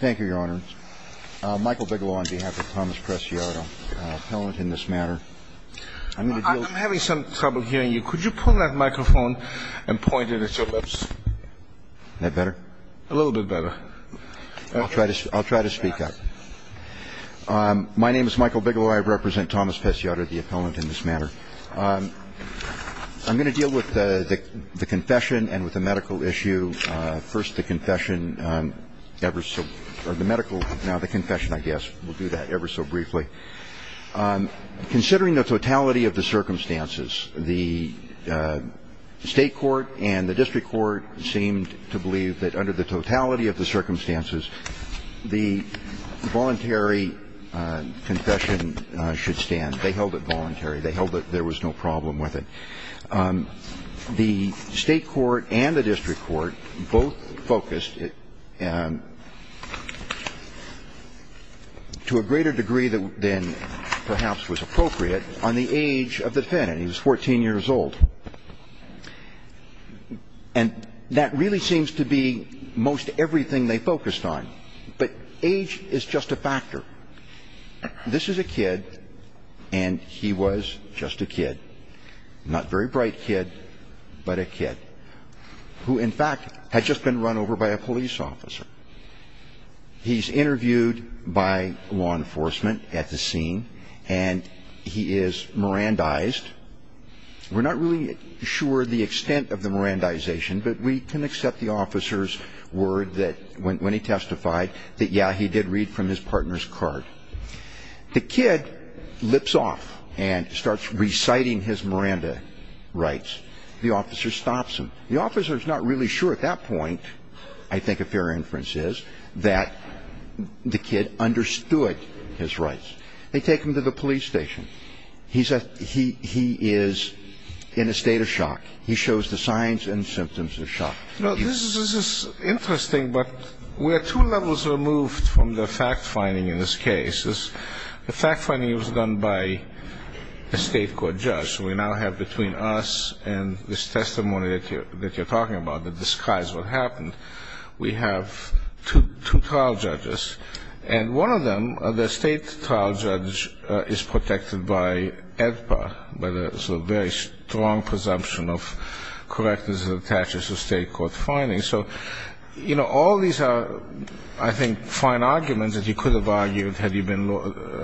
Thank you, Your Honor. Michael Bigelow on behalf of Thomas Preciado, appellant in this matter. I'm having some trouble hearing you. Could you pull that microphone and point it at your lips? Is that better? A little bit better. I'll try to speak up. My name is Michael Bigelow. I represent Thomas Preciado, the appellant in this matter. I'm going to deal with the confession and with the medical issue. First, the confession ever so – or the medical – no, the confession, I guess. We'll do that ever so briefly. Considering the totality of the circumstances, the state court and the district court seemed to believe that under the totality of the circumstances, the voluntary confession should stand. They held it voluntary. They held that there was no problem with it. The state court and the district court both focused, to a greater degree than perhaps was appropriate, on the age of the defendant. He was 14 years old. And that really seems to be most everything they focused on. But age is just a factor. This is a kid, and he was just a kid. Not very bright kid, but a kid. Who, in fact, had just been run over by a police officer. He's interviewed by law enforcement at the scene, and he is Mirandized. We're not really sure the extent of the Mirandization, but we can accept the officer's word that – The kid lips off and starts reciting his Miranda rights. The officer stops him. The officer's not really sure at that point, I think a fair inference is, that the kid understood his rights. They take him to the police station. He is in a state of shock. He shows the signs and symptoms of shock. This is interesting, but we're two levels removed from the fact-finding in this case. The fact-finding was done by a state court judge. So we now have between us and this testimony that you're talking about, the disguise of what happened, we have two trial judges. And one of them, the state trial judge, is protected by AEDPA, by the very strong presumption of correctness that attaches to state court findings. So, you know, all these are, I think, fine arguments that you could have argued had you been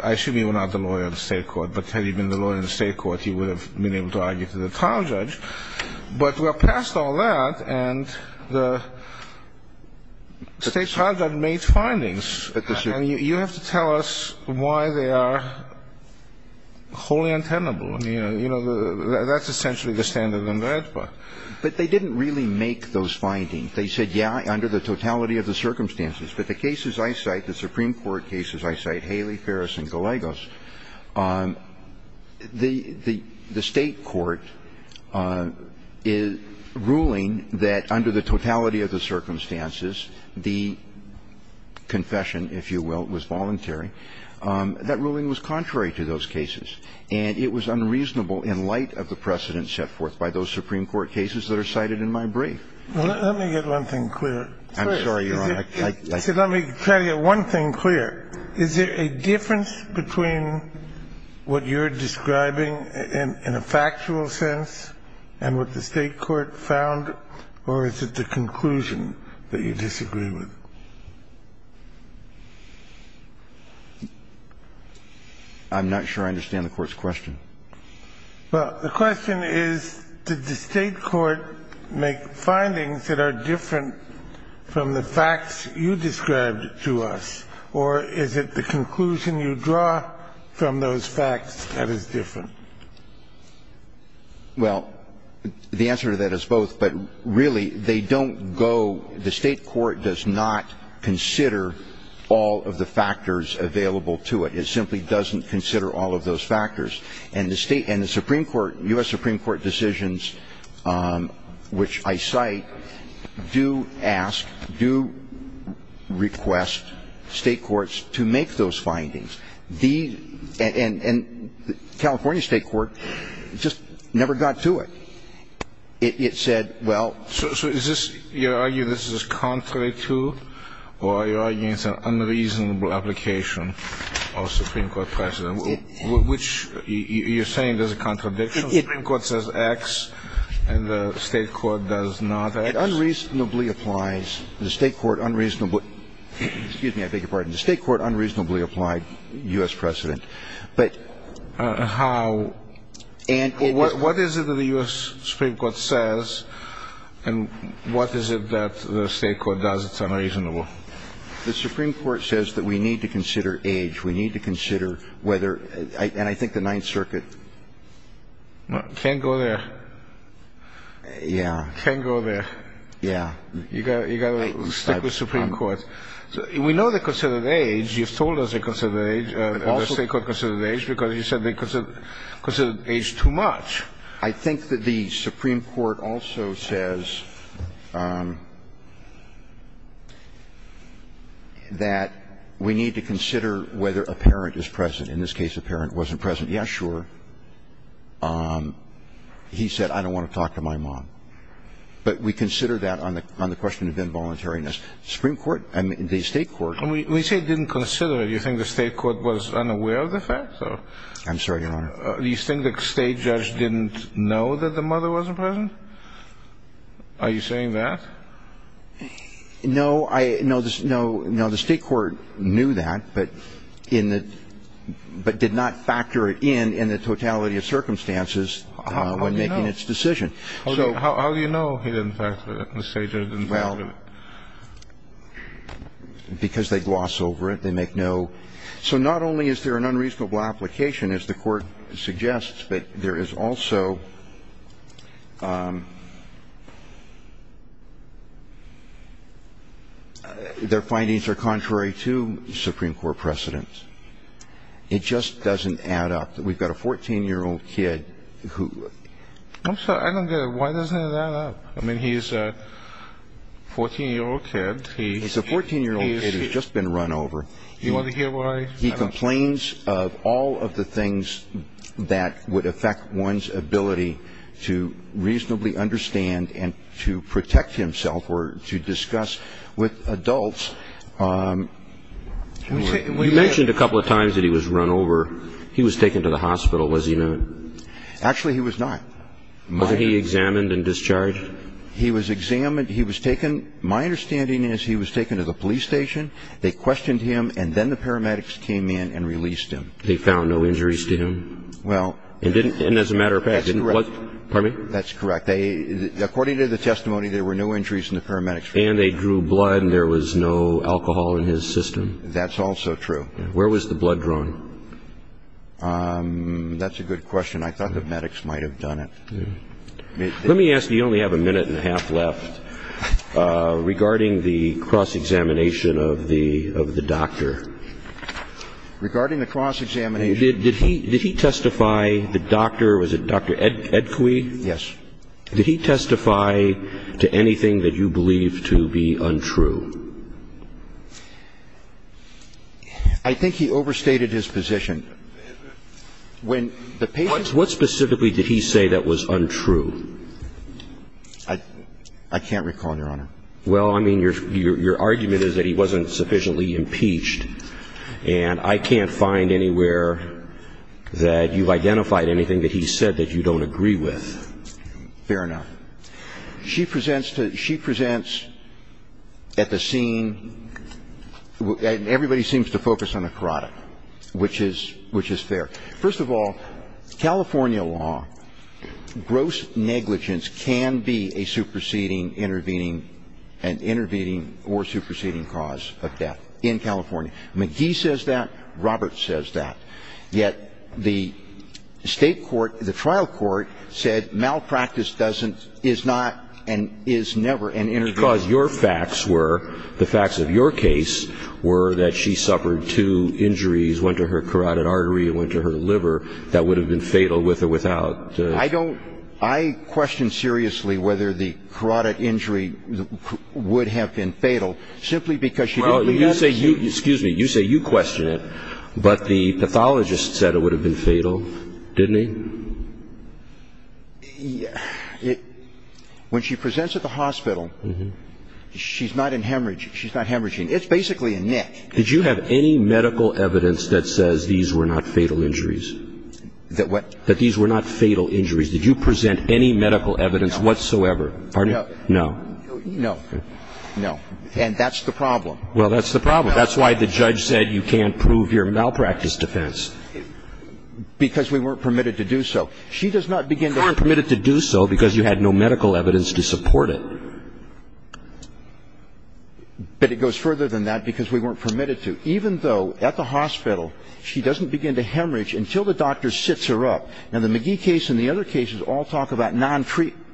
– I assume you were not the lawyer of the state court, but had you been the lawyer of the state court, you would have been able to argue to the trial judge. But we're past all that, and the state trial judge made findings. And you have to tell us why they are wholly untenable. You know, that's essentially the standard of AEDPA. But they didn't really make those findings. They said, yeah, under the totality of the circumstances. But the cases I cite, the Supreme Court cases I cite, Haley, Ferris, and Gallegos, the state court is ruling that under the totality of the circumstances, the confession, if you will, was voluntary. That ruling was contrary to those cases. And it was unreasonable in light of the precedents set forth by those Supreme Court cases that are cited in my brief. Let me get one thing clear. I'm sorry, Your Honor. Let me try to get one thing clear. Is there a difference between what you're describing in a factual sense and what the state court found, or is it the conclusion that you disagree with? I'm not sure I understand the Court's question. Well, the question is, did the state court make findings that are different from the facts you described to us, or is it the conclusion you draw from those facts that is different? Well, the answer to that is both. But really, they don't go the state court does not consider all of the factors available to it. It simply doesn't consider all of those factors. And the state and the Supreme Court, U.S. Supreme Court decisions, which I cite, do ask, do request state courts to make those findings. And California state court just never got to it. It said, well ---- So is this, you argue this is contrary to, or are you arguing it's an unreasonable application of Supreme Court precedent? Which, you're saying there's a contradiction? The Supreme Court says X, and the state court does not X? It unreasonably applies. The state court unreasonably ---- excuse me, I beg your pardon. The state court unreasonably applied U.S. precedent. But ---- How? What is it that the U.S. Supreme Court says, and what is it that the state court does that's unreasonable? The Supreme Court says that we need to consider age. We need to consider whether, and I think the Ninth Circuit ---- Can't go there. Yeah. Can't go there. Yeah. You got to stick with Supreme Court. We know they consider age. You've told us they consider age, and the state court considered age, because you said they considered age too much. I think that the Supreme Court also says that we need to consider whether a parent is present. In this case, a parent wasn't present. Yeah, sure. He said, I don't want to talk to my mom. But we consider that on the question of involuntariness. The Supreme Court, the state court ---- We say didn't consider. Do you think the state court was unaware of the fact? I'm sorry, Your Honor. Do you think the state judge didn't know that the mother wasn't present? Are you saying that? No. No, the state court knew that, but in the ---- but did not factor it in, in the totality of circumstances when making its decision. How do you know? How do you know he didn't factor it, the state judge didn't factor it? Well, because they gloss over it, they make no ---- So not only is there an unreasonable application, as the court suggests, but there is also their findings are contrary to Supreme Court precedent. It just doesn't add up. We've got a 14-year-old kid who ---- I'm sorry, I don't get it. Why doesn't it add up? I mean, he's a 14-year-old kid. He's a 14-year-old kid who's just been run over. You want to hear why? He complains of all of the things that would affect one's ability to reasonably understand and to protect himself or to discuss with adults. You mentioned a couple of times that he was run over. He was taken to the hospital, was he not? Actually, he was not. Wasn't he examined and discharged? He was examined. He was taken. My understanding is he was taken to the police station. They questioned him, and then the paramedics came in and released him. They found no injuries to him? Well, that's correct. Pardon me? That's correct. According to the testimony, there were no injuries in the paramedics' report. And they drew blood and there was no alcohol in his system? That's also true. Where was the blood drawn? That's a good question. I thought the paramedics might have done it. Let me ask you, you only have a minute and a half left. Regarding the cross-examination of the doctor. Regarding the cross-examination. Did he testify, the doctor, was it Dr. Edquigue? Yes. Did he testify to anything that you believe to be untrue? I think he overstated his position. What specifically did he say that was untrue? I can't recall, Your Honor. Well, I mean, your argument is that he wasn't sufficiently impeached. And I can't find anywhere that you've identified anything that he said that you don't agree with. Fair enough. She presents at the scene, and everybody seems to focus on the carotid, which is fair. First of all, California law, gross negligence can be a superseding, intervening, and intervening or superseding cause of death in California. McGee says that. Roberts says that. Yet the state court, the trial court, said malpractice doesn't, is not, and is never an intervening cause. Because your facts were, the facts of your case, were that she suffered two injuries, one to her carotid artery and one to her liver, that would have been fatal with or without. I don't, I question seriously whether the carotid injury would have been fatal simply because she didn't have it. Well, you say you, excuse me, you say you question it, but the pathologist said it would have been fatal, didn't he? When she presents at the hospital, she's not in hemorrhaging. She's not hemorrhaging. It's basically a nick. Did you have any medical evidence that says these were not fatal injuries? That what? That these were not fatal injuries. Did you present any medical evidence whatsoever? No. Pardon me? No. No. No. And that's the problem. Well, that's the problem. That's why the judge said you can't prove your malpractice defense. Because we weren't permitted to do so. She does not begin to be permitted to do so because you had no medical evidence to support it. But it goes further than that because we weren't permitted to, even though at the hospital she doesn't begin to hemorrhage until the doctor sits her up. Now, the McGee case and the other cases all talk about non-treatment.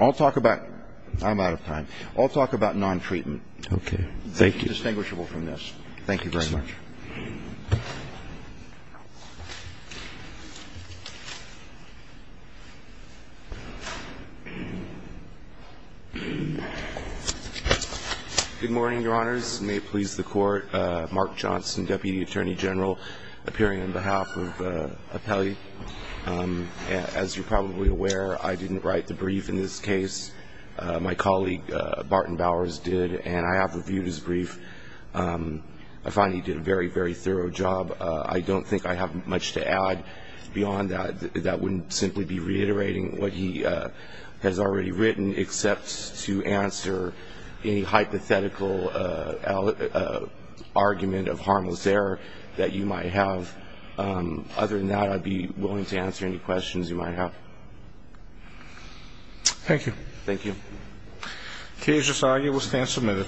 I'll talk about, I'm out of time, I'll talk about non-treatment. Okay. Thank you. Distinguishable from this. Thank you very much. Thank you. Good morning, Your Honors. May it please the Court. Mark Johnson, Deputy Attorney General, appearing on behalf of Appellee. As you're probably aware, I didn't write the brief in this case. My colleague, Barton Bowers, did, and I have reviewed his brief. I find he did a very, very thorough job. I don't think I have much to add beyond that. That wouldn't simply be reiterating what he has already written, except to answer any hypothetical argument of harmless error that you might have. Other than that, I'd be willing to answer any questions you might have. Thank you. Thank you. The case is argued. We'll stand submitted.